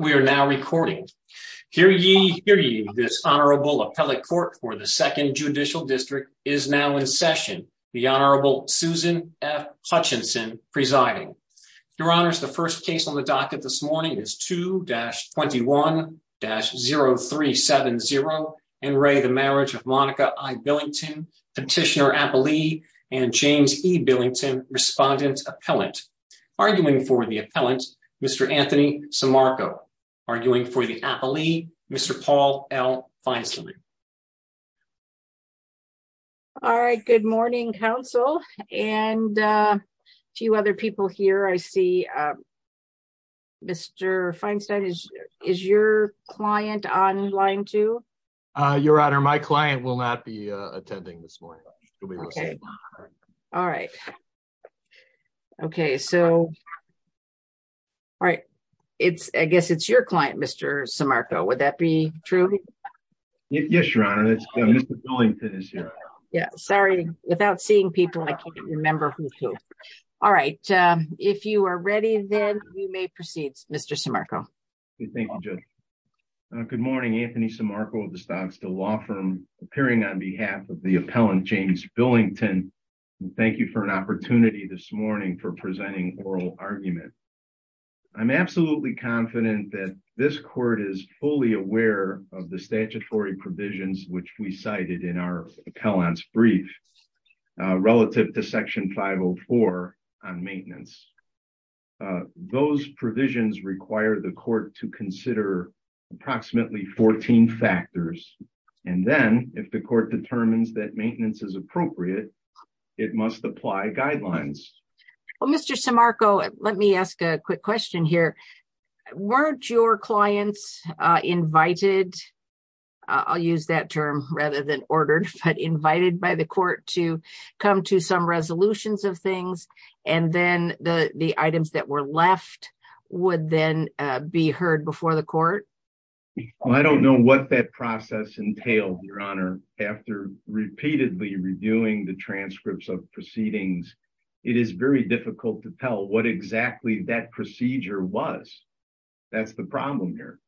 We are now recording. Hear ye, hear ye, this Honorable Appellate Court for the Second Judicial District is now in session, the Honorable Susan F. Hutchinson presiding. Your Honors, the first case on the docket this morning is 2-21-0370, Enray the Marriage of Monica I. Billington, Petitioner Appellee, and James E. Billington, Respondent Appellant. Arguing for the Appellant, Mr. Anthony Simarco. Arguing for the Appellee, Mr. Paul L. Feinstein. All right, good morning, counsel, and a few other people here. I see Mr. Feinstein, is your client on line two? Your Honor, my client will not be attending this morning. Okay, all right, okay, so, all right, it's, I guess it's your client, Mr. Simarco, would that be true? Yes, Your Honor, Mr. Billington is here. Yeah, sorry, without seeing people, I can't remember who's who. All right, if you are ready, then you may proceed, Mr. Simarco. Good morning, Anthony Simarco of the Stocksdale Law Firm, appearing on behalf of the Appellant James Billington. Thank you for an opportunity this morning for presenting oral argument. I'm absolutely confident that this Court is fully aware of the statutory provisions which we cited in our Appellant's brief, relative to Section 504 on maintenance. Those provisions require the Court to consider approximately 14 factors, and then, if the Court determines that maintenance is appropriate, it must apply guidelines. Well, Mr. Simarco, let me ask a quick question here. Weren't your clients invited, I'll use that term rather than ordered, but invited by the Court to come to some resolutions of things, and then the items that were left would then be heard before the Court? Well, I don't know what that process entailed, Your Honor. After repeatedly reviewing the transcripts of proceedings, it is very difficult to tell what exactly that procedure was. That's the problem here.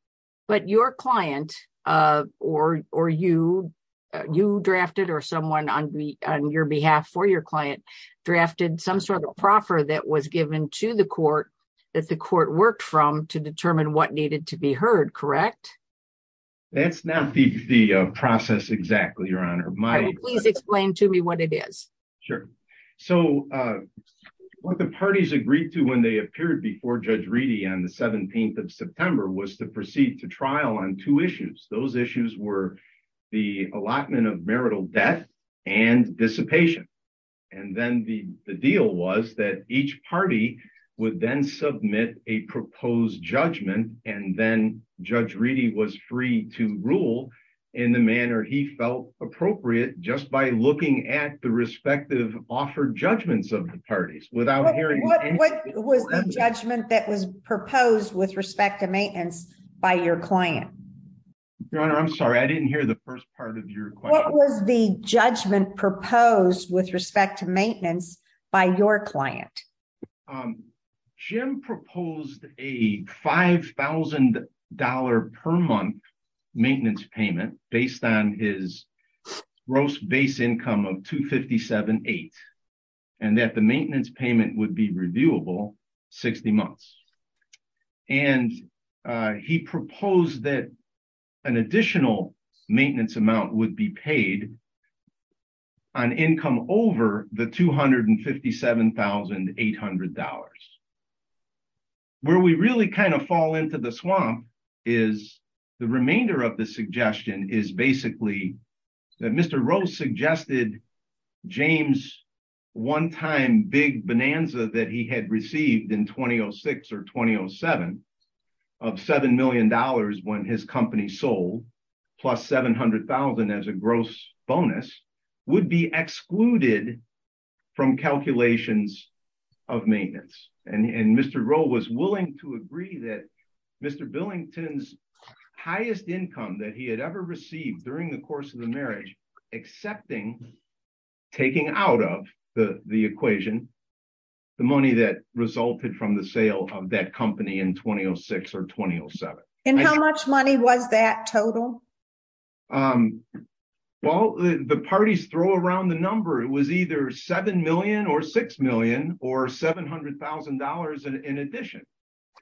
But your client, or you, you drafted, or someone on your behalf for your client drafted some sort of proffer that was given to the Court that the Court worked from to determine what needed to be heard, correct? That's not the process exactly, Your Honor. Please explain to me what it is. Sure. So, what the parties agreed to when they appeared before Judge Reedy on the 17th of and dissipation. And then the deal was that each party would then submit a proposed judgment, and then Judge Reedy was free to rule in the manner he felt appropriate just by looking at the respective offered judgments of the parties without hearing... What was the judgment that was proposed with respect to maintenance by your client? Your Honor, I'm sorry, I didn't hear the first part of your question. What was the judgment proposed with respect to maintenance by your client? Jim proposed a $5,000 per month maintenance payment based on his gross base income of $257,800, and that the maintenance payment would be reviewable 60 months. And he proposed that an additional maintenance amount would be paid on income over the $257,800. Where we really kind of fall into the swamp is the remainder of the suggestion is basically that Mr. Rose suggested James' one-time big bonanza that he had received in 2006 or 2007 of $7 million when his company sold plus $700,000 as a gross bonus would be excluded from calculations of maintenance. And Mr. Roe was willing to agree that Mr. Billington's highest income that he had ever received during the course of the marriage, accepting, taking out of the equation, the money that resulted from the sale of that company in 2006 or 2007. And how much money was that total? Well, the parties throw around the number. It was either $7 million or $6 million or $700,000 in addition.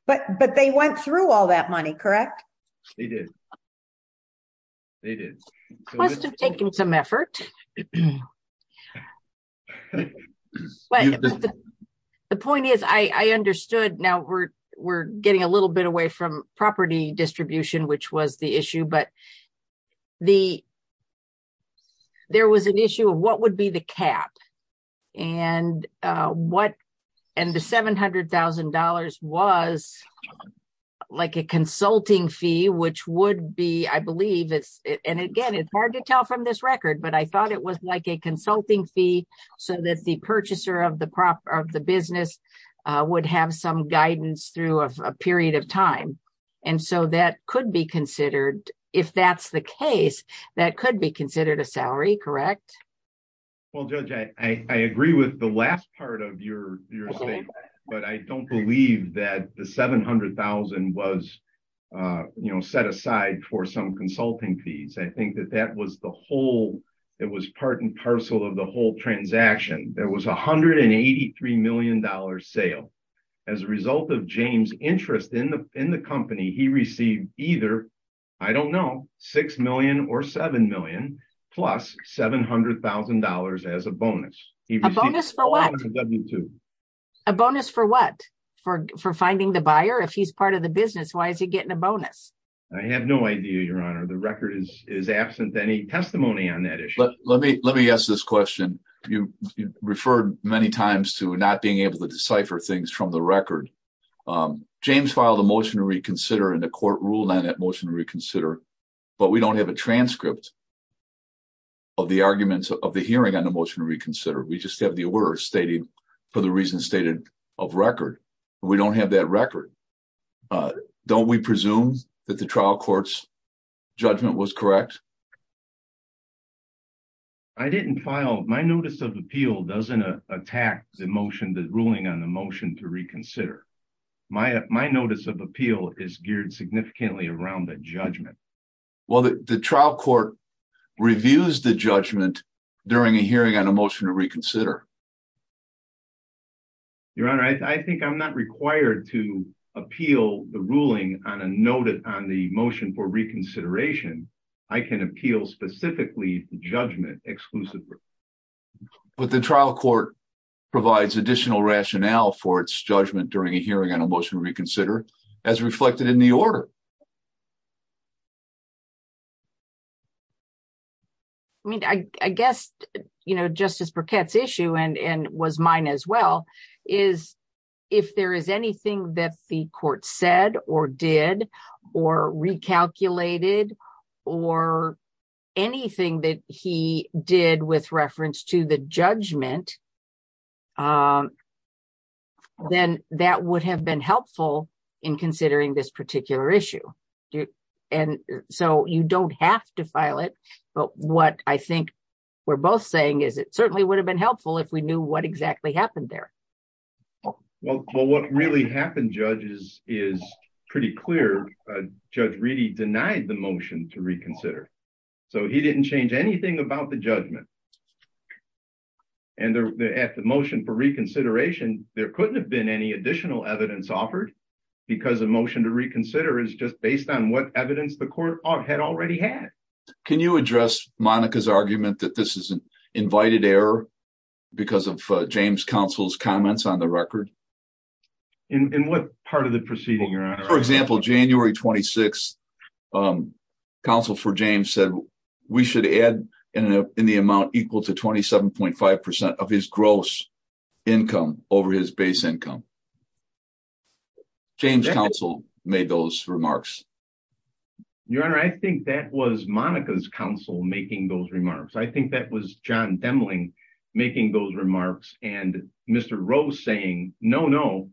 But they went through all that money, correct? They did. They did. Must have taken some effort. The point is I understood now we're getting a little bit away from property distribution, which was the issue, but there was an issue of what would be the cap. And the $700,000 was like a consulting fee, which would be, I believe, and again, it's hard to tell from this record, but I thought it was like a consulting fee so that the purchaser of the business would have some guidance through a period of time. And so that could be considered, if that's the case, that could be considered a salary, correct? Well, Judge, I agree with the last part of your statement, but I don't believe that the $700,000 was set aside for some consulting fees. I think that that was part and parcel of the whole transaction. There was $183 million sale. As a result of James' interest in the company, he received either, I don't know, $6 million or $7 plus $700,000 as a bonus. A bonus for what? A bonus for what? For finding the buyer? If he's part of the business, why is he getting a bonus? I have no idea, Your Honor. The record is absent any testimony on that issue. Let me ask this question. You referred many times to not being able to decipher things from the record. James filed a motion to reconsider and the court ruled motion to reconsider, but we don't have a transcript of the arguments of the hearing on the motion to reconsider. We just have the words stating, for the reasons stated of record. We don't have that record. Don't we presume that the trial court's judgment was correct? I didn't file. My notice of appeal doesn't attack the ruling on the motion to reconsider. My notice of appeal is geared significantly around the judgment. Well, the trial court reviews the judgment during a hearing on a motion to reconsider. Your Honor, I think I'm not required to appeal the ruling on the motion for reconsideration. I can appeal specifically judgment exclusively. But the trial court provides additional rationale for its judgment during a hearing on a motion to reconsider as reflected in the order. I mean, I guess, you know, Justice Burkett's issue and was mine as well, is if there is anything that the court said or did or recalculated or anything that he did with reference to the then that would have been helpful in considering this particular issue. And so you don't have to file it. But what I think we're both saying is it certainly would have been helpful if we knew what exactly happened there. Well, what really happened, Judge, is pretty clear. Judge Reedy denied the motion to reconsider. So he didn't change anything about the judgment. And at the motion for reconsideration, there couldn't have been any additional evidence offered because a motion to reconsider is just based on what evidence the court had already had. Can you address Monica's argument that this is an invited error because of James Counsel's comments on the record? In what part of the proceeding, Your Honor? For example, January 26, Counsel for James said we should add in the amount equal to 27.5% of his gross income over his base income. James Counsel made those remarks. Your Honor, I think that was Monica's counsel making those remarks. I think that was John Demling making those remarks and Mr. Rose saying, no, no,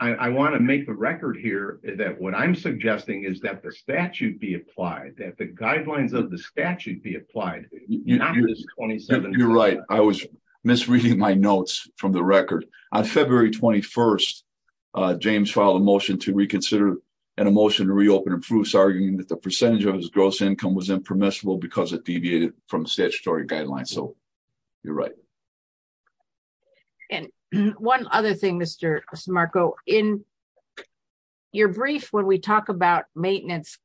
I want to make the record here that what I'm suggesting is that the statute be applied, that the guidelines of the statute be applied. You're right. I was misreading my notes from the record. On February 21, James filed a motion to reconsider and a motion to reopen improves, arguing that the percentage of his gross income was impermissible because it deviated from statutory guidelines. You're right. One other thing, Mr. Smarco. In your brief, when we talk about maintenance,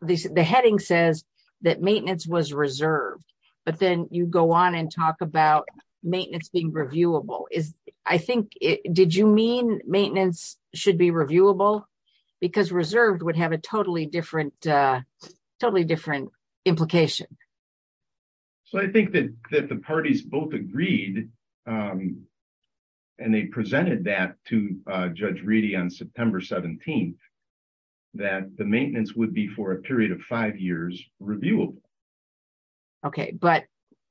the heading says that maintenance was reserved, but then you go on and talk about maintenance being reviewable. Did you mean maintenance should be reviewable? Because reserved would have a totally different implication. I think that the parties both agreed and they presented that to Judge Reedy on September 17, that the maintenance would be for a period of five years reviewable. Okay. But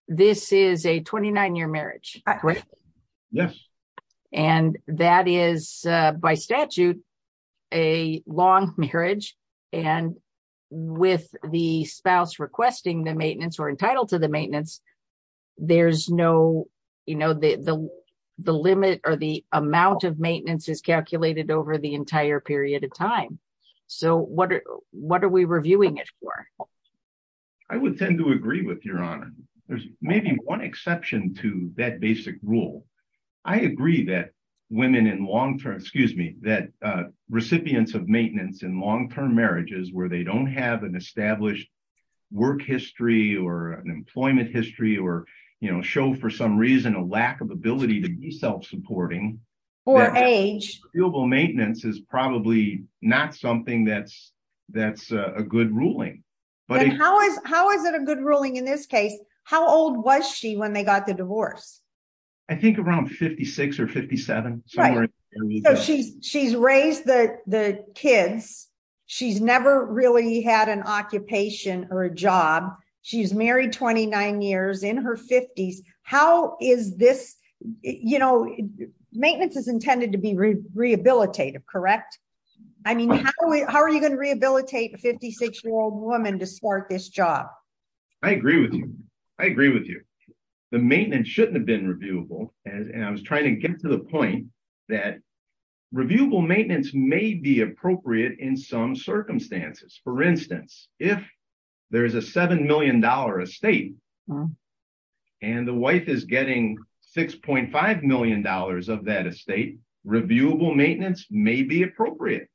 this is a 29-year marriage, correct? Yes. And that is by statute a long marriage. And with the spouse requesting the maintenance or entitled to the maintenance, the amount of maintenance is calculated over the entire period of time. So what are we reviewing it for? I would tend to agree with Your Honor. There's maybe one exception to that basic rule. I agree that recipients of maintenance in long-term marriages where they don't have an established work history or an employment history or show for some reason a lack of ability to be self-supporting or age, maintenance is probably not something that's a good ruling. But how is it a good ruling in this case? How old was she when they got the divorce? I think around 56 or 57. She's raised the kids. She's never really had an occupation or a job. She's married 29 years in her 50s. Maintenance is intended to be rehabilitative, correct? I mean, how are you going to rehabilitate a 56-year-old woman to start this job? I agree with you. The maintenance shouldn't have been reviewable. And I was trying to get to the point that reviewable maintenance may be appropriate in some circumstances. For instance, if there is a $7 million estate and the wife is getting $6.5 million of that estate, reviewable maintenance may be appropriate.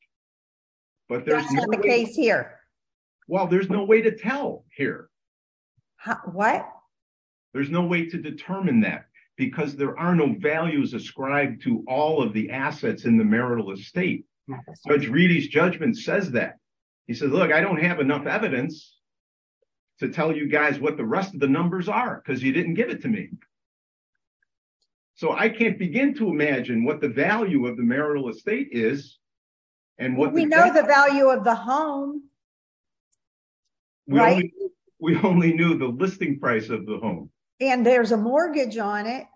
That's not the case here. Well, there's no way to tell here. What? There's no way to determine that because there are no values ascribed to all of the assets in the estate. He says, look, I don't have enough evidence to tell you guys what the rest of the numbers are because you didn't give it to me. So I can't begin to imagine what the value of the marital estate is and what- We know the value of the home. We only knew the listing price of the home. And there's a mortgage on it.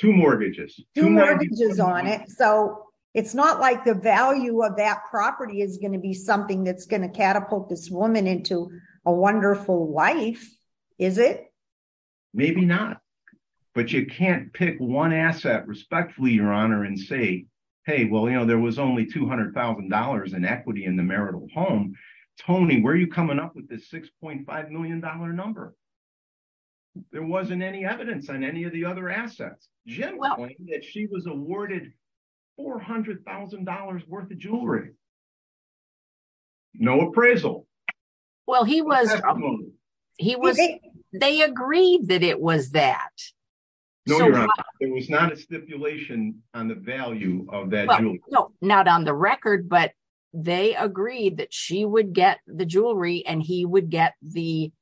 Two mortgages. Two mortgages on it. So it's not like the value of that property is going to be something that's going to catapult this woman into a wonderful life, is it? Maybe not. But you can't pick one asset respectfully, Your Honor, and say, hey, well, you know, there was only $200,000 in equity in the marital home. Tony, where are you coming up with this $6.5 million number? There wasn't any evidence on any of the other assets. Generally, she was awarded $400,000 worth of jewelry. No appraisal. Well, he was- They agreed that it was that. No, Your Honor. It was not a stipulation on the value of that jewelry. Not on the record, but they agreed that she would get the jewelry and he would get the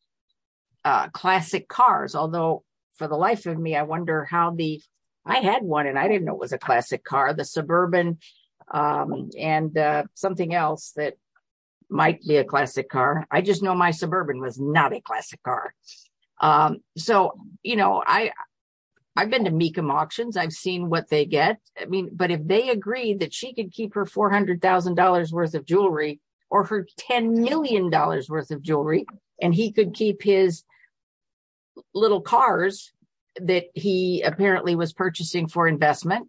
classic cars. Although for the life of me, I wonder how the- I had one and I didn't know it was a classic car, the Suburban and something else that might be a classic car. I just know my Suburban was not a classic car. So, you know, I've been to Mecham auctions. I've seen what they get. I mean, but if they agreed that she could keep her $400,000 worth of jewelry or her $10 million worth of jewelry, and he could keep his little cars that he apparently was purchasing for investment,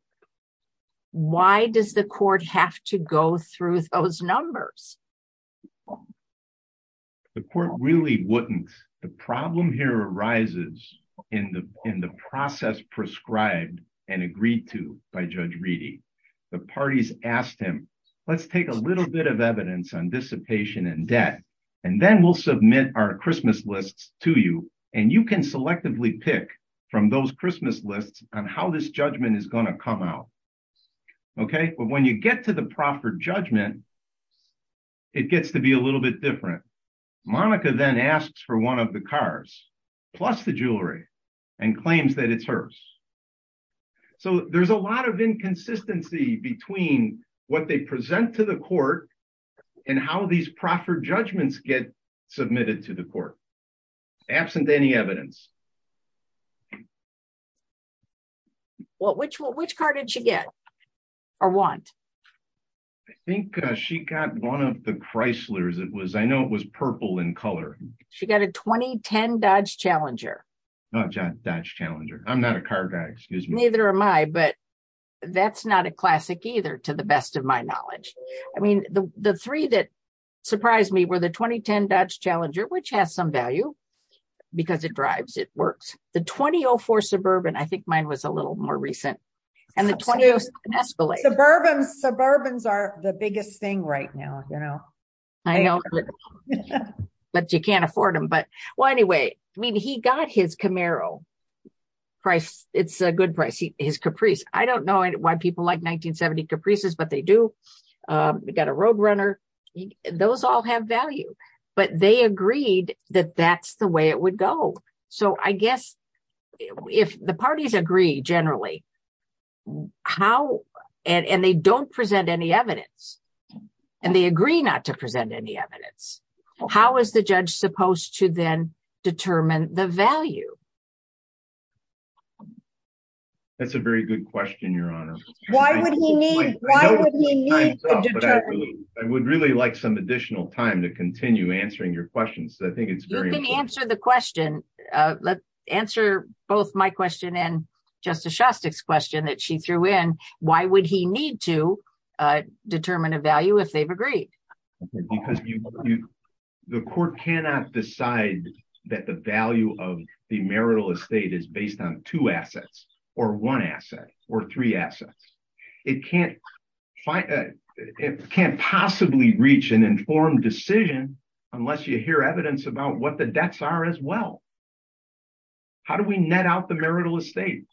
why does the court have to go through those numbers? The court really wouldn't. The problem here arises in the process prescribed and agreed to by Judge Reedy. The parties asked him, let's take a little bit of evidence on dissipation and debt, and then we'll submit our Christmas lists to you. And you can selectively pick from those Christmas lists on how this judgment is going to come out. Okay. But when you get to the proffered judgment, it gets to be a little bit different. Monica then asks for one of the cars plus the jewelry and claims that it's hers. So there's a lot of inconsistency between what they present to the court and how these judgments get submitted to the court. Absent any evidence. Well, which car did she get or want? I think she got one of the Chryslers. It was, I know it was purple in color. She got a 2010 Dodge Challenger. Not a Dodge Challenger. I'm not a car guy, excuse me. Neither am I, but that's not a classic either, to the best of my knowledge. I mean, the three that surprised me were the 2010 Dodge Challenger, which has some value because it drives, it works. The 2004 Suburban, I think mine was a little more recent. Suburbans are the biggest thing right now. I know, but you can't afford them. But well, anyway, I mean, he got his Camaro. It's a good price, his Caprice. I don't know why people like 1970 Caprices, but they do. We got a Roadrunner. Those all have value, but they agreed that that's the way it would go. So I guess if the parties agree generally, how, and they don't present any evidence and they agree not to present any evidence, how is the judge supposed to then determine the value? That's a very good question, Your Honor. Why would he need, why would he need to determine? I would really like some additional time to continue answering your questions. I think it's very important. You can answer the question. Let's answer both my question and Justice Shostak's question that she threw in. Why would he need to determine a value if they've agreed? Because the court cannot decide that the value of the marital estate is based on two assets or one asset or three assets. It can't possibly reach an informed decision unless you hear evidence about what the debts are as well. How do we net out the marital estate?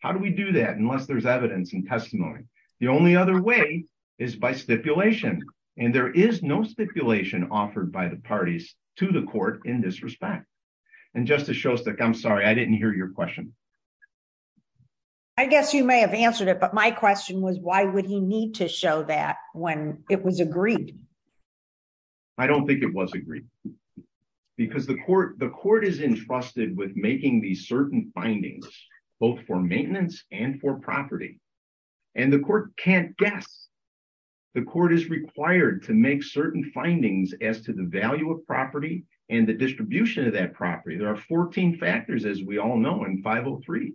How do we do that unless there's evidence and testimony? The only other way is by stipulation. And there is no stipulation offered by the parties to the court in this respect. And Justice Shostak, I'm sorry, I didn't hear your question. I guess you may have answered it, but my question was, why would he need to show that when it was agreed? I don't think it was agreed because the court is entrusted with making these certain findings, both for maintenance and for property. And the court can't guess. The court is required to make certain findings as to the value of property and the distribution of that property. There are 14 factors, as we all know, in 503.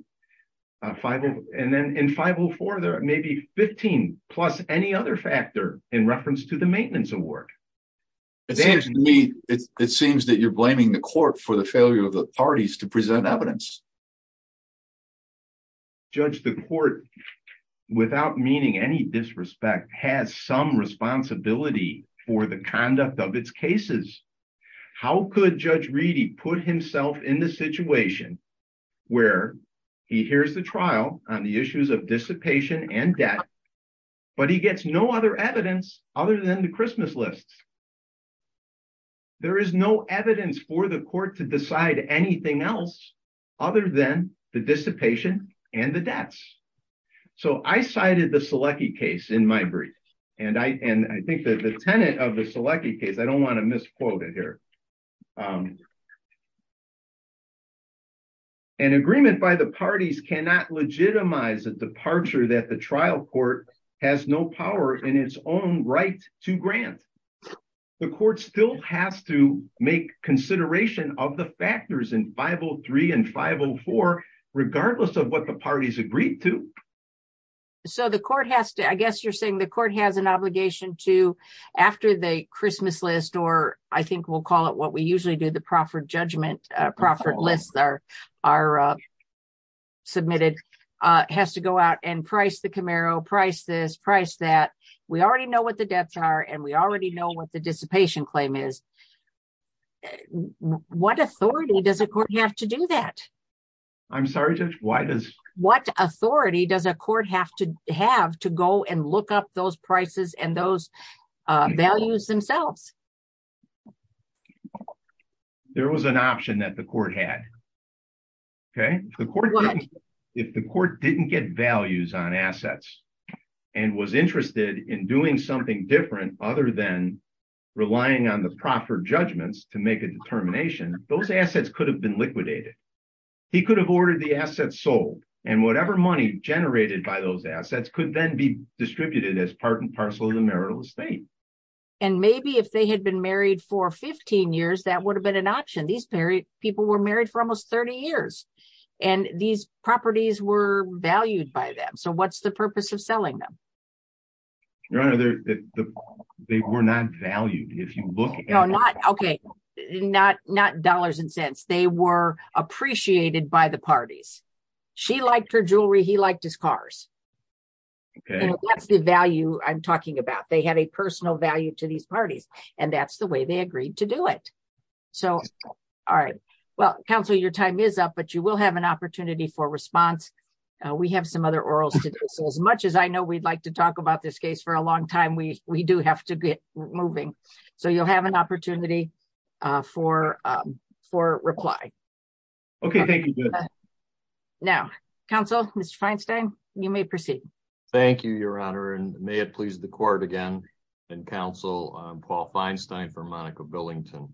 And then in 504, there may be 15 plus any other factor in reference to the maintenance award. It seems that you're blaming the court for the failure of the parties to present evidence. Judge, the court, without meaning any disrespect, has some responsibility for the conduct of its cases. How could Judge Reedy put himself in the situation where he hears the trial on the issues of dissipation and debt, but he gets no other evidence other than the Christmas lists? There is no evidence for the court to decide anything else other than the dissipation and the debts. So I cited the Selecky case in my brief. And I think that the tenant of the Selecky case, I don't want to misquote it here. An agreement by the parties cannot legitimize a departure that the trial court has no power in its own right to grant. The court still has to make consideration of the factors in 503 and 504, regardless of what the parties agreed to. So the court has to, I guess you're saying the court has an obligation to, after the Christmas list, or I think we'll call it what we usually do, the proffered judgment, proffered lists are submitted, has to go out and price the Camaro, price this, price that. We already know what the debts are, and we already know what the dissipation claim is. What authority does a court have to do that? I'm sorry, Judge, why does... have to go and look up those prices and those values themselves? There was an option that the court had. If the court didn't get values on assets and was interested in doing something different, other than relying on the proffered judgments to make a determination, those assets could have been liquidated. He could have ordered the assets sold and whatever money generated by those assets could then be distributed as part and parcel of the marital estate. And maybe if they had been married for 15 years, that would have been an option. These people were married for almost 30 years, and these properties were valued by them. So what's the purpose of selling them? They were not valued. If you look at... not dollars and cents, they were appreciated by the parties. She liked her jewelry, he liked his cars. That's the value I'm talking about. They had a personal value to these parties, and that's the way they agreed to do it. So all right. Well, counsel, your time is up, but you will have an opportunity for response. We have some other orals to do. So as much as I know we'd like to talk about this case for a long time, we do have to get moving. So you'll have an opportunity for reply. Okay, thank you. Now, counsel, Mr. Feinstein, you may proceed. Thank you, Your Honor, and may it please the court again and counsel, Paul Feinstein for Monica Billington.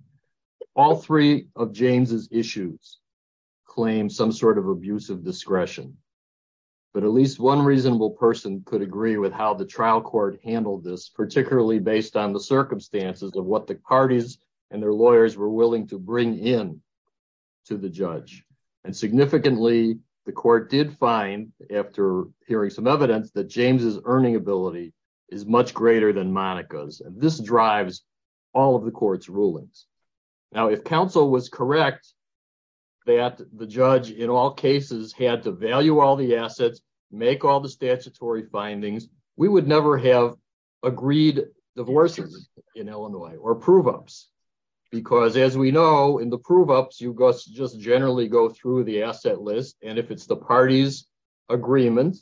All three of James' issues claim some sort of abuse of discretion, but at least one reasonable person could agree with how the trial court handled this, particularly based on the circumstances of what the parties and their lawyers were willing to bring in to the judge. And significantly, the court did find, after hearing some evidence, that James' earning ability is much greater than Monica's, and this drives all of the court's rulings. Now, if counsel was correct that the judge in all cases had to value all the assets, make all the statutory findings, we would never have agreed divorces in Illinois or prove-ups, because as we know, in the prove-ups, you just generally go through the asset list, and if it's the party's agreement,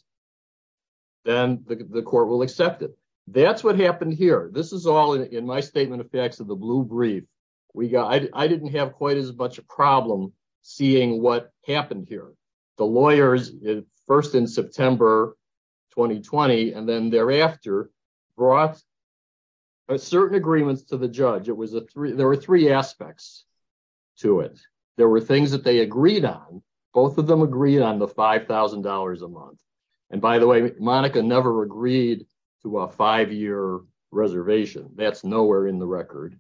then the court will accept it. That's what happened here. This is all in my statement of facts of the blue brief. I didn't have quite as much a problem seeing what first in September 2020, and then thereafter, brought certain agreements to the judge. There were three aspects to it. There were things that they agreed on. Both of them agreed on the $5,000 a month, and by the way, Monica never agreed to a five-year reservation. That's nowhere in the record.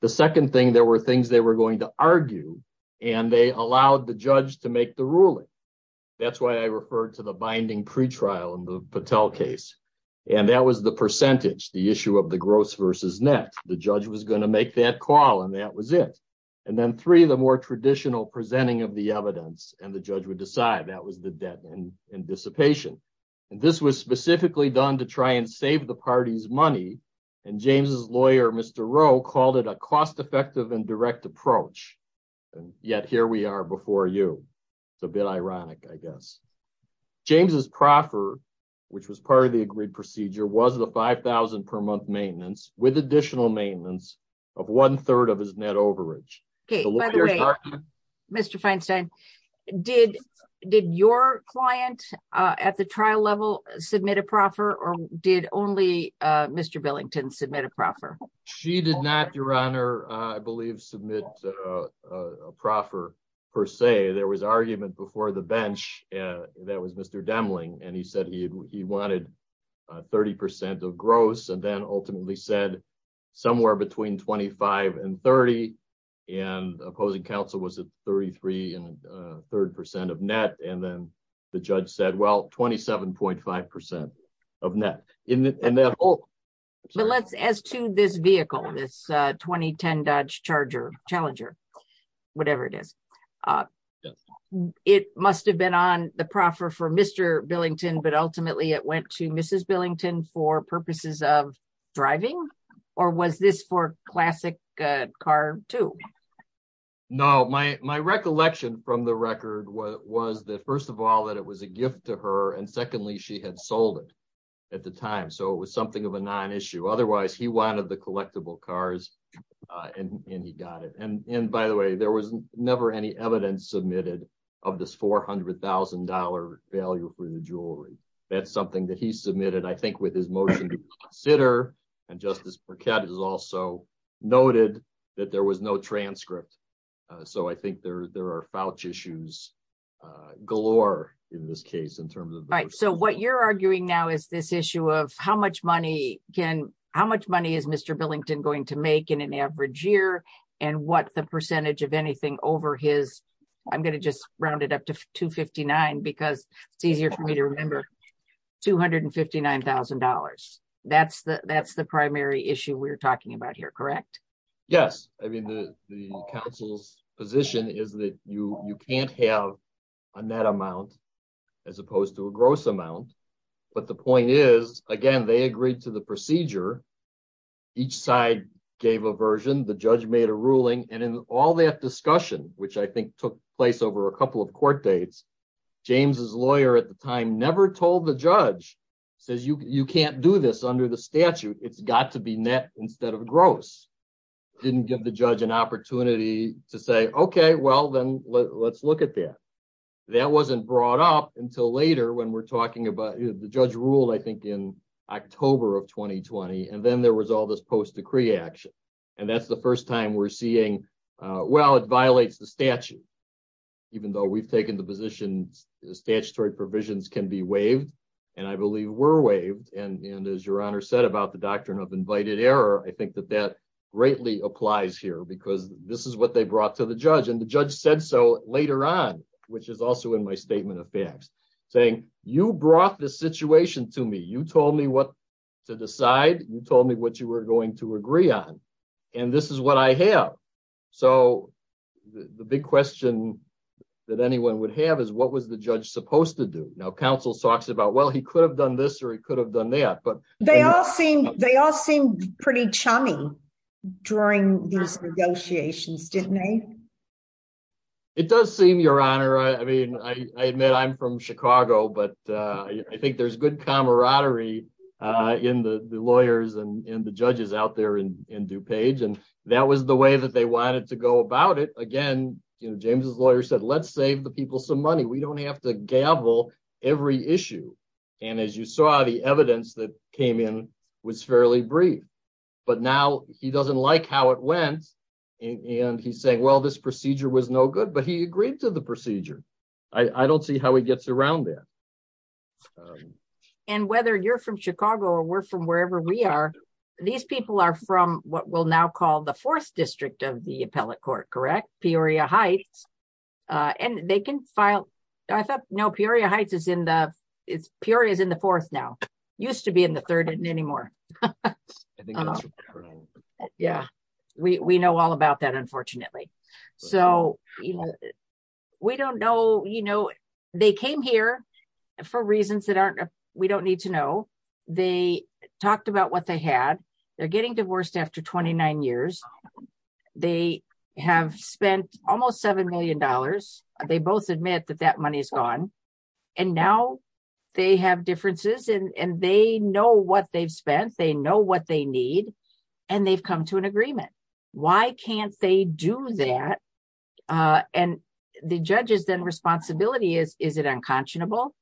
The second thing, there were things they were going to argue, and they allowed the judge to make the ruling. That's why I referred to the binding pretrial in the Patel case, and that was the percentage, the issue of the gross versus net. The judge was going to make that call, and that was it, and then three, the more traditional presenting of the evidence, and the judge would decide. That was the debt and dissipation, and this was specifically done to try and save the party's money, and James's lawyer, Mr. Rowe, called it a cost-effective and direct approach, and yet here we are before you. It's a bit ironic, I guess. James's proffer, which was part of the agreed procedure, was the $5,000 per month maintenance with additional maintenance of one-third of his net overage. Okay, by the way, Mr. Feinstein, did your client at the trial level submit a proffer, or did only Mr. Billington submit a proffer? She did not, Your Honor, I believe, submit a proffer per se. There was argument before the bench that was Mr. Demling, and he said he wanted a 30 percent of gross, and then ultimately said somewhere between 25 and 30, and opposing counsel was at 33 and a third percent of net, and then the judge said, well, 27.5 percent of net. As to this vehicle, this 2010 Dodge Challenger, whatever it is, it must have been on the proffer for Mr. Billington, but ultimately it went to Mrs. Billington for purposes of driving, or was this for classic car, too? No, my recollection from the record was that, first of all, that it was a gift to her, and secondly, she had sold it at the time, so it was something of a non-issue. Otherwise, he wanted the collectible cars, and he got it, and by the way, there was never any evidence submitted of this $400,000 value for the jewelry. That's something that he submitted, I think, with his motion to consider, and Justice Burkett has also noted that there was no transcript, so I think there are fouch issues galore in this case, in terms of- Right, so what you're arguing now is this issue of how much money can- how much money is Mr. Billington going to make in an average year, and what the percentage of anything over his- $159,000. That's the primary issue we're talking about here, correct? Yes, I mean, the counsel's position is that you can't have a net amount as opposed to a gross amount, but the point is, again, they agreed to the procedure. Each side gave a version. The judge made a ruling, and in all that discussion, which I think took place over a couple of court dates, James's lawyer at the time never told the judge, says, you can't do this under the statute. It's got to be net instead of gross. Didn't give the judge an opportunity to say, okay, well, then let's look at that. That wasn't brought up until later, when we're talking about- the judge ruled, I think, in October of 2020, and then there was all this post-decree action, and that's the first time we're seeing, well, it violates the statute, even though we've taken the position statutory provisions can be waived, and I believe were waived, and as your honor said about the doctrine of invited error, I think that that greatly applies here because this is what they brought to the judge, and the judge said so later on, which is also in my statement of facts, saying, you brought this situation to me. You told me what to decide. You told me what you were going to agree on, and this is what I have. So, the big question that anyone would have is, what was the judge supposed to do? Now, counsel talks about, well, he could have done this, or he could have done that, but- They all seem pretty chummy during these negotiations, didn't they? It does seem, your honor. I mean, I admit I'm from Chicago, but I think there's good camaraderie in the lawyers and in the judges out there in DuPage, and that was the way that they wanted to go about it. Again, you know, James's lawyer said, let's save the people some money. We don't have to gavel every issue, and as you saw, the evidence that came in was fairly brief, but now he doesn't like how it went, and he's saying, well, this procedure was no good, but he agreed to the procedure. I don't see how he gets around that. And whether you're from Chicago or we're from wherever we are, these people are from what we'll now call the fourth district of the appellate court, correct? Peoria Heights, and they can file- I thought, no, Peoria Heights is in the- Peoria is in the fourth now. Used to be in the We don't know, you know, they came here for reasons that aren't- we don't need to know. They talked about what they had. They're getting divorced after 29 years. They have spent almost $7 million. They both admit that that money is gone, and now they have differences, and they know what they've spent. They know what they need, and they've come to agreement. Why can't they do that? And the judge's then responsibility is, is it unconscionable?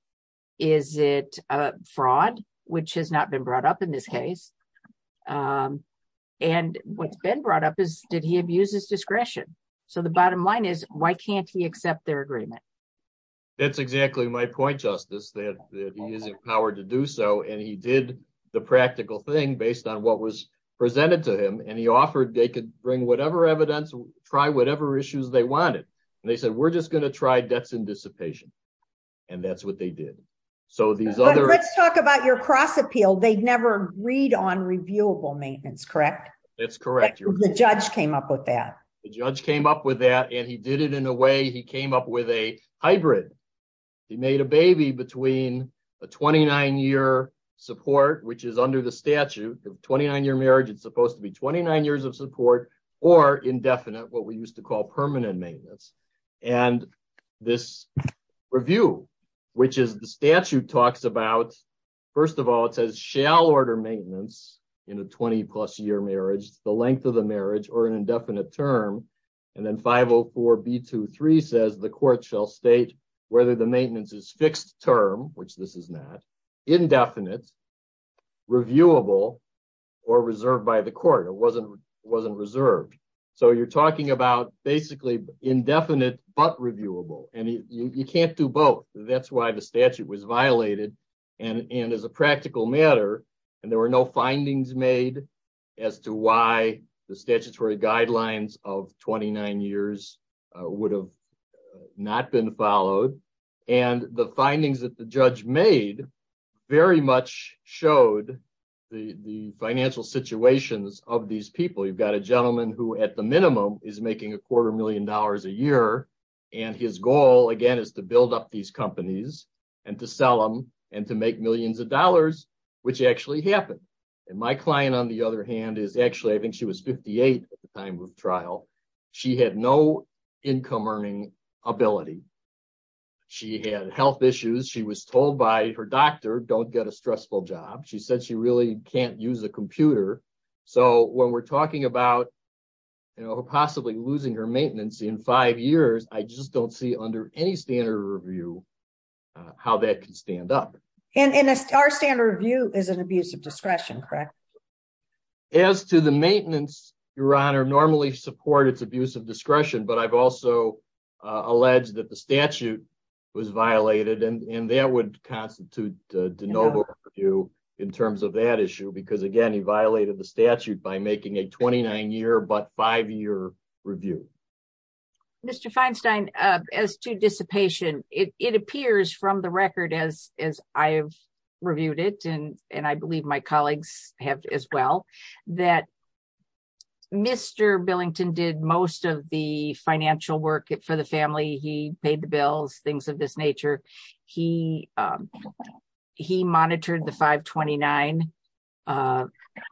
Is it a fraud, which has not been brought up in this case? And what's been brought up is, did he abuse his discretion? So the bottom line is, why can't he accept their agreement? That's exactly my point, Justice, that he is empowered to do so, and he did the practical thing based on what was presented to him, and he offered they could bring whatever evidence, try whatever issues they wanted, and they said, we're just going to try debts in dissipation, and that's what they did. So these other- Let's talk about your cross appeal. They'd never agreed on reviewable maintenance, correct? That's correct. The judge came up with that. The judge came up with that, and he did it in a way- he came up with a hybrid. He made a baby between a 29-year support, which is under the statute of 29-year marriage, it's supposed to be 29 years of support, or indefinite, what we used to call permanent maintenance. And this review, which is the statute talks about, first of all, it says, shall order maintenance in a 20-plus year marriage, the length of the marriage, or an indefinite term, and then 504b23 says, the court shall state whether the maintenance is fixed term, which this is not, indefinite, reviewable, or reserved by the court. It wasn't reserved. So you're talking about basically indefinite, but reviewable, and you can't do both. That's why the statute was violated, and as a practical matter, and there were no findings made as to why the statutory guidelines of 29 years would have not been followed. And the findings that the judge made very much showed the financial situations of these people. You've got a gentleman who, at the minimum, is making a quarter million dollars a year, and his goal, again, is to build up these companies, and to sell them, and to make millions of dollars, which actually happened. And my client, on the other hand, is actually, I think she was 58 at the time of trial. She had no income earning ability. She had health issues. She was told by her doctor, don't get a stressful job. She said she really can't use a computer. So when we're talking about, you know, possibly losing her maintenance in five years, I just don't see, under any standard review, how that can stand up. And our standard review is an abuse of discretion, correct? As to the maintenance, Your Honor, normally support its abuse of discretion, but I've also alleged that the statute was violated, and that would constitute de novo review in terms of that issue, because again, he violated the statute by making a 29-year but five-year review. Mr. Feinstein, as to dissipation, it appears from the record, as I have reviewed it, and I believe my colleagues have as well, that Mr. Billington did most of the financial work for the family. He paid the bills, things of this nature. He monitored the 529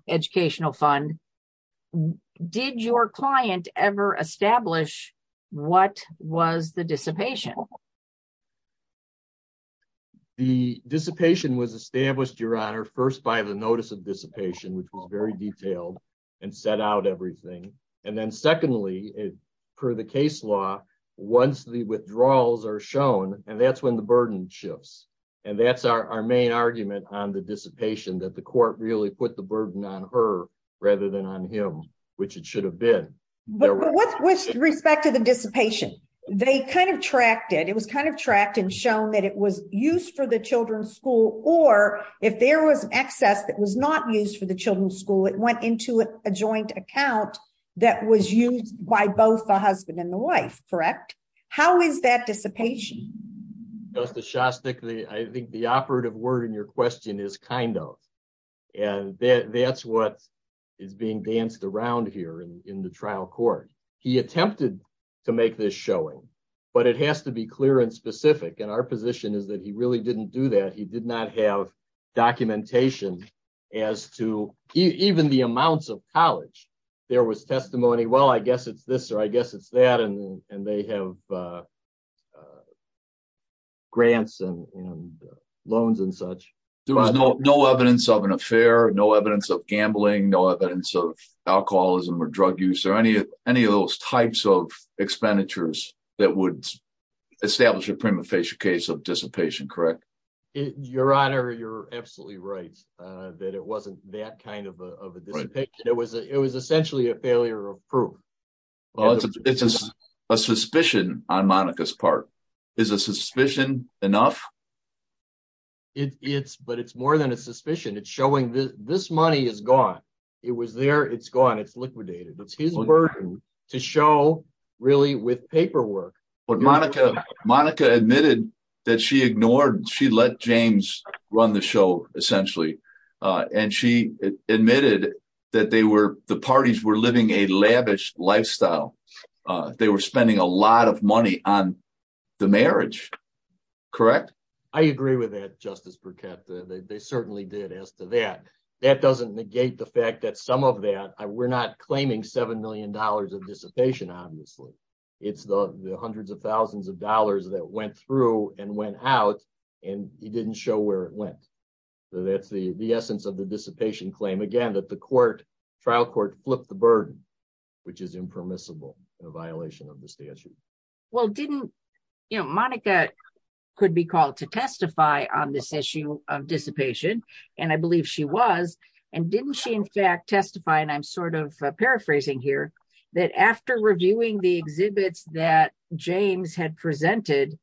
educational fund. And did your client ever establish what was the dissipation? The dissipation was established, Your Honor, first by the notice of dissipation, which was very detailed and set out everything. And then secondly, per the case law, once the withdrawals are shown, and that's when the burden shifts, and that's our main argument on the dissipation, that the court really put the burden on her rather than on him, which it should have been. But with respect to the dissipation, they kind of tracked it. It was kind of tracked and shown that it was used for the children's school, or if there was excess that was not used for the children's school, it went into a joint account that was used by both the husband and the wife, correct? How is that dissipation? Justice Shostak, I think the operative word in your question is kind of, and that's what is being danced around here in the trial court. He attempted to make this showing, but it has to be clear and specific. And our position is that he really didn't do that. He did not have documentation as to even the amounts of college. There was testimony, well, I guess it's this, or I guess it's that, and they have grants and loans and such. There was no evidence of an affair, no evidence of gambling, no evidence of alcoholism or drug use or any of those types of expenditures that would establish a prima facie case of dissipation, correct? Your Honor, you're absolutely right that it wasn't that kind of a dissipation. It was essentially a failure of proof. Well, it's a suspicion on Monica's part. Is a suspicion enough? But it's more than a suspicion. It's showing this money is gone. It was there, it's gone, it's liquidated. It's his burden to show really with paperwork. But Monica admitted that she ignored, she let James run the show essentially. And she admitted that the parties were living a lavish lifestyle. They were spending a lot of money on the marriage, correct? I agree with that, Justice Burkett. They certainly did as to that. That doesn't negate the fact that some of that, we're not claiming $7 million of dissipation, obviously. It's the hundreds of thousands of dollars that went through and went out, and he didn't show where it went. So that's the essence of the dissipation claim. Again, that the trial court flipped the burden, which is impermissible in a violation of the statute. Well, didn't, Monica could be called to testify on this issue of dissipation, and I believe she was. And didn't she in fact testify, and I'm sort of paraphrasing here, that after reviewing the exhibits that James had presented,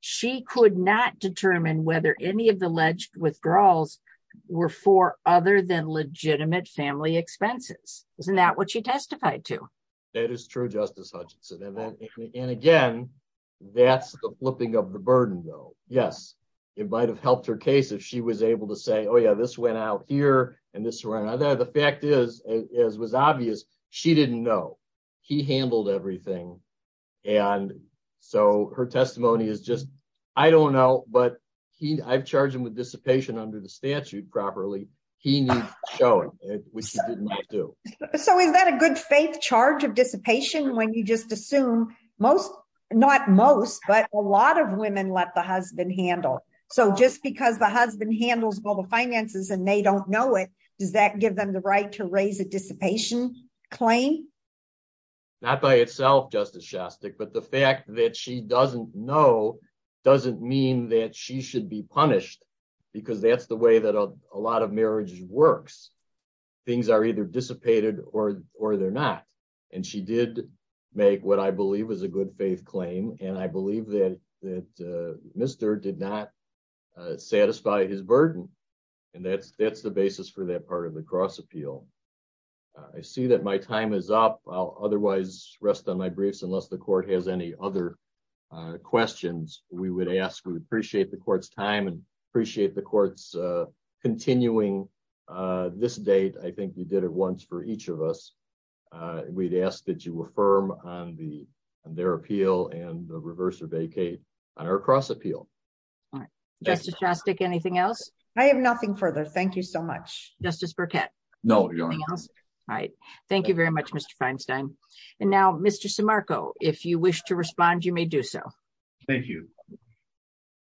she could not determine whether any alleged withdrawals were for other than legitimate family expenses. Isn't that what she testified to? That is true, Justice Hutchinson. And again, that's the flipping of the burden though. Yes, it might have helped her case if she was able to say, oh yeah, this went out here, and this ran. The fact is, as was obvious, she didn't know. He handled everything. And so her testimony is I don't know, but I've charged him with dissipation under the statute properly. He needs showing, which he did not do. So is that a good faith charge of dissipation when you just assume most, not most, but a lot of women let the husband handle. So just because the husband handles all the finances and they don't know it, does that give them the right to raise a dissipation claim? Not by itself, Justice Shostak, but the fact that she doesn't know doesn't mean that she should be punished, because that's the way that a lot of marriages works. Things are either dissipated or they're not. And she did make what I believe is a good faith claim, and I believe that Mr. did not satisfy his burden. And that's the basis for that part of the cross appeal. I see that my time is up. I'll otherwise rest on my briefs unless the court has any other questions we would ask. We appreciate the court's time and appreciate the court's continuing this date. I think you did it once for each of us. We'd ask that you affirm on their appeal and reverse or vacate on our cross appeal. Justice Shostak, anything else? I have nothing further. Thank you so much. Justice Burkett? No. All right. Thank you very much, Mr. Feinstein. And now, Mr. Simarco, if you wish to respond, you may do so. Thank you.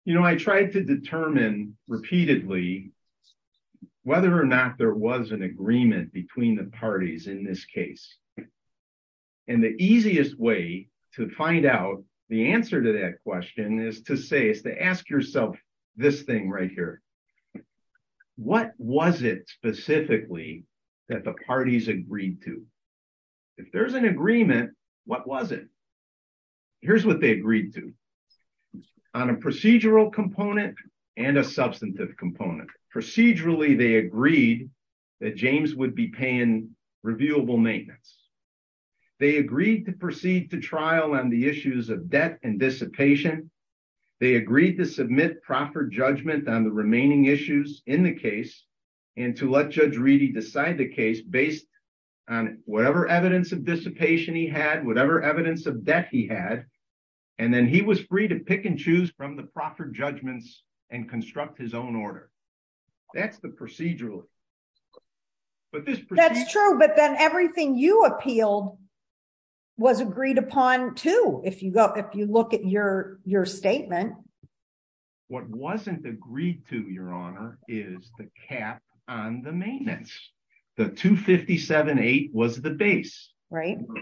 You know, I tried to determine repeatedly whether or not there was an agreement between the parties in this case. And the easiest way to find out the answer to that question is to say is to ask yourself this thing right here. What was it specifically that the parties agreed to? If there's an agreement, what was it? Here's what they agreed to on a procedural component and a substantive component. Procedurally, they agreed that James would be paying reviewable maintenance. They agreed to proceed to trial on the issues of debt and dissipation. They agreed to submit proper judgment on the remaining issues in the case and to let Judge Reedy decide the case based on whatever evidence of dissipation he had, whatever evidence of debt he had. And then he was free to pick and choose from the proper judgments and construct his own order. That's the procedural. That's true, but then everything you appealed was agreed upon, too, if you look at your statement. What wasn't agreed to, Your Honor, is the cap on the maintenance. The 257.8 was the base.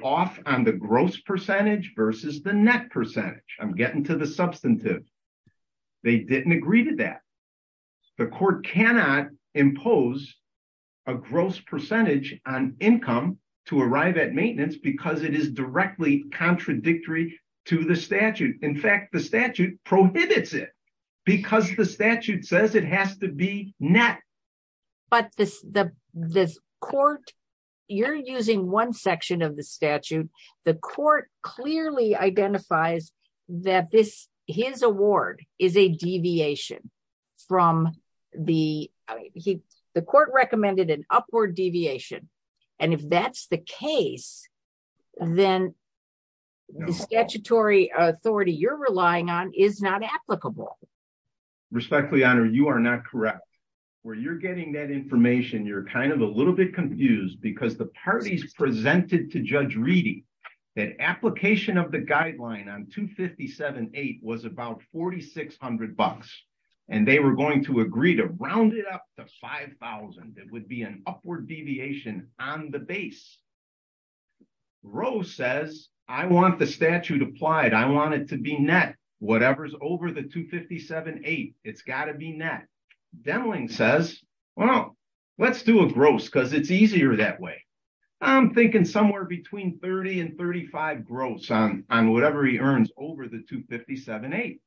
Off on the gross percentage versus the net percentage. I'm getting to the substantive. They didn't agree to that. The court cannot impose a gross percentage on income to arrive at maintenance because it is directly contradictory to the statute. In fact, the statute prohibits it because the statute says it has to be net. But the court, you're using one section of the statute. The court clearly identifies that his award is a deviation. The court recommended an upward deviation. And if that's the case, then the statutory authority you're relying on is not applicable. Respectfully, Your Honor, you are not correct. Where you're getting that information, you're kind of a little bit confused because the parties presented to Judge Reedy that application of the guideline on 257.8 was about $4,600. And they were going to agree to round it up to $5,000. It would be an upward deviation on the base. Roe says, I want the statute applied. I want it to be net. Whatever's over the 257.8, it's got to be net. Denling says, well, let's do a gross because it's easier that way. I'm thinking somewhere between 30 and 35 gross on whatever he earns over the 257.8.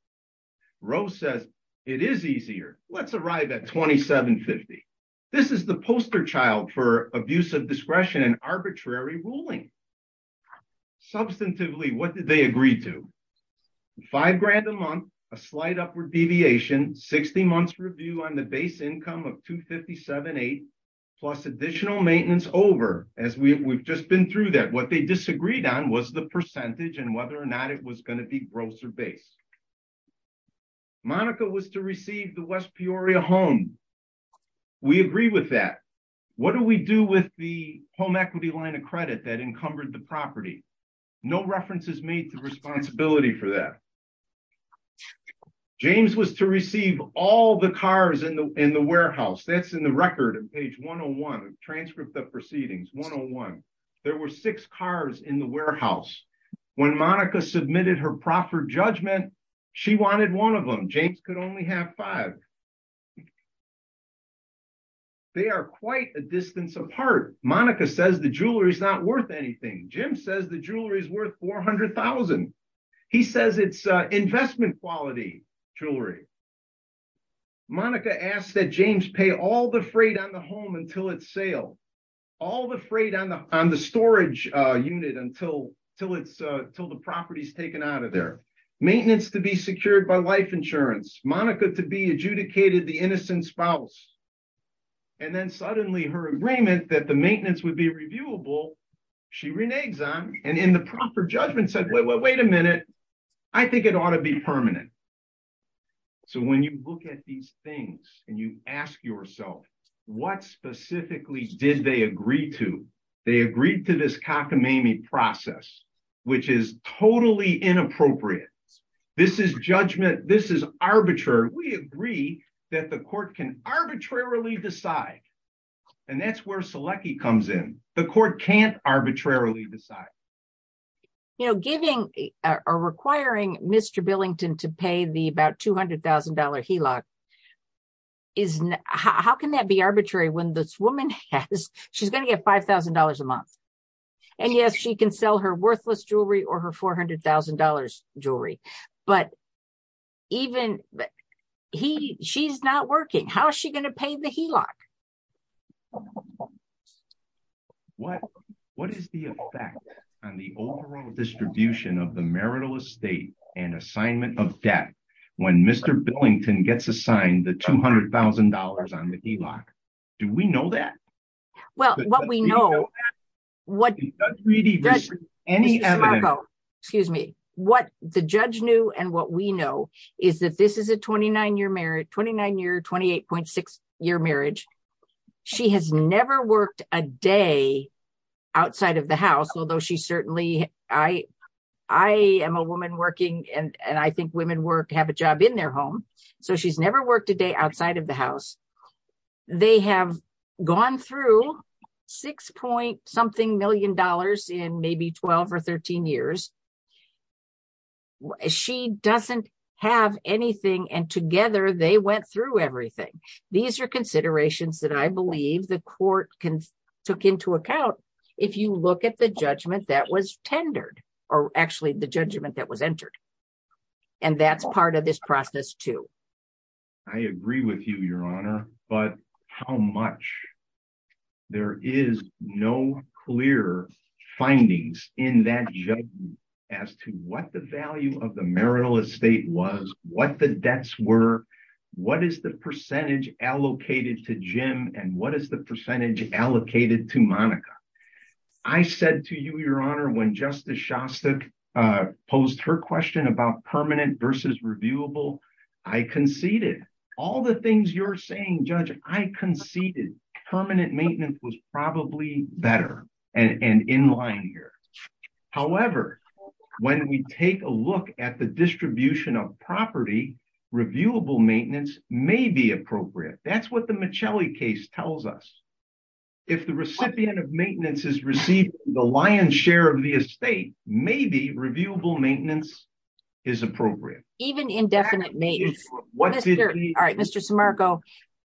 Roe says, it is easier. Let's arrive at 2750. This is the poster child for abuse of discretion and arbitrary ruling. Substantively, what did they agree to? Five grand a month, a slight upward deviation, 60 months review on the base income of 257.8 plus additional maintenance over as we've just been through that. What they disagreed on was the percentage and whether or not it was going to be gross or base. Monica was to receive the West Peoria home. We agree with that. What do we do with the home equity line of credit that encumbered the property? No references made to responsibility for that. James was to receive all the cars in the warehouse. That's in the record of page 101, transcript of proceedings 101. There were six cars in the warehouse. When Monica submitted her proper judgment, she wanted one of them. James could only have five. They are quite a distance apart. Monica says the jewelry is not worth anything. Jim says the jewelry is worth 400,000. He says it's investment quality jewelry. Monica asked that James pay all the freight on the home until it's sale. All the freight on the storage unit until the property is taken out of there. Maintenance to be secured by life insurance. Monica to be adjudicated the innocent spouse. Then suddenly her agreement that the maintenance would be reviewable, she reneges on and in the proper judgment said, wait a minute, I think it ought to be permanent. When you look at these things and you ask yourself, what specifically did they agree to? They agreed to this cockamamie process, which is totally inappropriate. This is judgment. This is arbitrary. We agree that the court can arbitrarily decide. That's where Selecki comes in. The court can't arbitrarily decide. You know, giving or requiring Mr. Billington to pay the about $200,000 HELOC, how can that be arbitrary when this woman has, she's going to get $5,000 a month. And yes, she can sell her worthless jewelry or her $400,000 jewelry, but even he, she's not working. How is she going to pay the HELOC? What is the effect on the overall distribution of the marital estate and assignment of debt when Mr. Billington gets assigned the $200,000 on the HELOC? Do we know that? Well, what we know, what the judge knew and what we know is that this is a 29 year marriage, 29 year, 28.6 year marriage. She has never worked a day outside of the house. Although she certainly, I am a woman working and I think women work, have a job in their home. So she's never worked a day outside of the house. They have gone through six point something million dollars in maybe 12 or 13 years. She doesn't have anything and together they went through everything. These are considerations that I believe the court can took into account. If you look at the judgment that was tendered or actually the judgment that was entered and that's part of this process too. I agree with you, your honor, but how much? There is no clear findings in that judgment as to what the value of the marital estate was, what the debts were, what is the percentage allocated to Jim and what is the percentage allocated to Monica? I said to you, your honor, when Justice Shostak posed her question about permanent versus reviewable, I conceded. All the things you're saying, judge, I conceded. Permanent maintenance was probably better and in line here. However, when we take a look at the distribution of property, reviewable maintenance may be appropriate. That's what the Michelli case tells us. If the recipient of maintenance has received the lion's share of the estate, maybe reviewable maintenance is appropriate. Even indefinite maintenance. Mr. Simarco,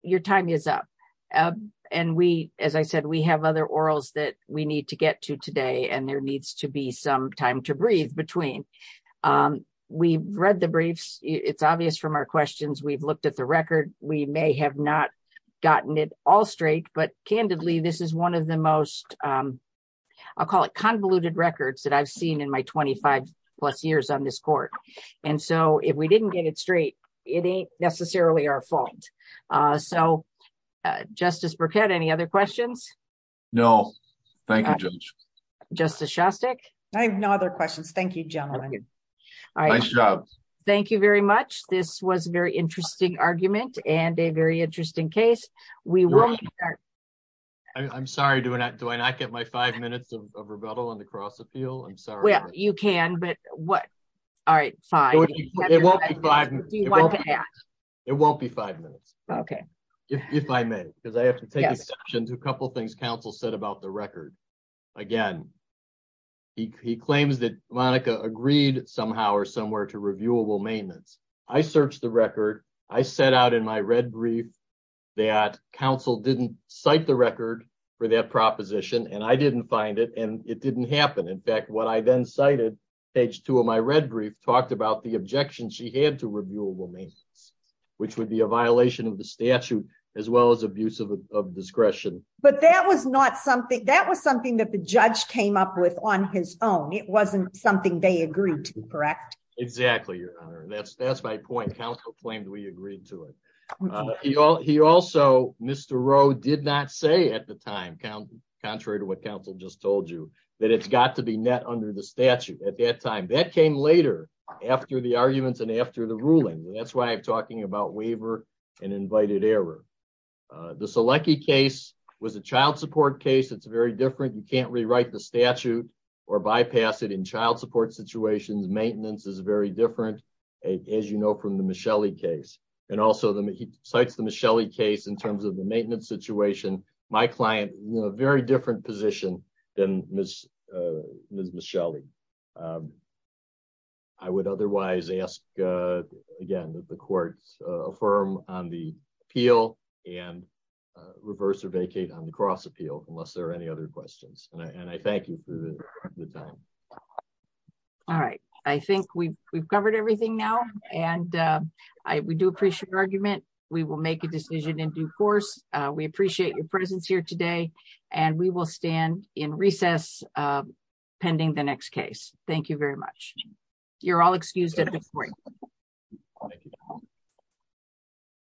your time is up. As I said, we have other orals that we need to get to today and there needs to be some time to breathe between. We've read the briefs. It's obvious from our questions. We've looked at the record. We may have not gotten it all but candidly, this is one of the most, I'll call it convoluted records that I've seen in my 25 plus years on this court. If we didn't get it straight, it ain't necessarily our fault. Justice Burkett, any other questions? No. Thank you, judge. Justice Shostak? I have no other questions. Thank you, gentlemen. Thank you very much. This was a very interesting argument and a very interesting case. We will start. I'm sorry. Do I not get my five minutes of rebuttal on the cross appeal? I'm sorry. Well, you can, but what? All right, fine. It won't be five minutes. It won't be five minutes. Okay. If I may, because I have to take exception to a couple of things counsel said about the record. Again, he claims that Monica agreed somehow or somewhere to reviewable maintenance. I searched the record. I set out in my red brief that counsel didn't cite the record for that proposition and I didn't find it and it didn't happen. In fact, what I then cited, page two of my red brief talked about the objection she had to reviewable maintenance, which would be a violation of the statute as well as abuse of discretion. But that was not something, that was something that the judge came up with on his own. It wasn't something they agreed to. Correct? Exactly. Your honor. That's, that's my point. Counsel claimed we agreed to it. He also, Mr. Rowe did not say at the time, contrary to what counsel just told you, that it's got to be net under the statute at that time. That came later after the arguments and after the ruling. That's why I'm talking about waiver and invited error. The Selecki case was a child support case. It's very different. You can't rewrite the statute or bypass it in child support situations. Maintenance is very different, as you know, from the Michelli case. And also, he cites the Michelli case in terms of the maintenance situation. My client is in a very different position than Ms. Michelli. I would otherwise ask, again, that the court affirm on the appeal and reverse or vacate on the cross appeal, unless there are any other questions. And I thank you for the time. All right. I think we've covered everything now. And we do appreciate your argument. We will make a decision in due course. We appreciate your presence here today. And we will stand in recess pending the next case. Thank you very much. You're all excused at this point.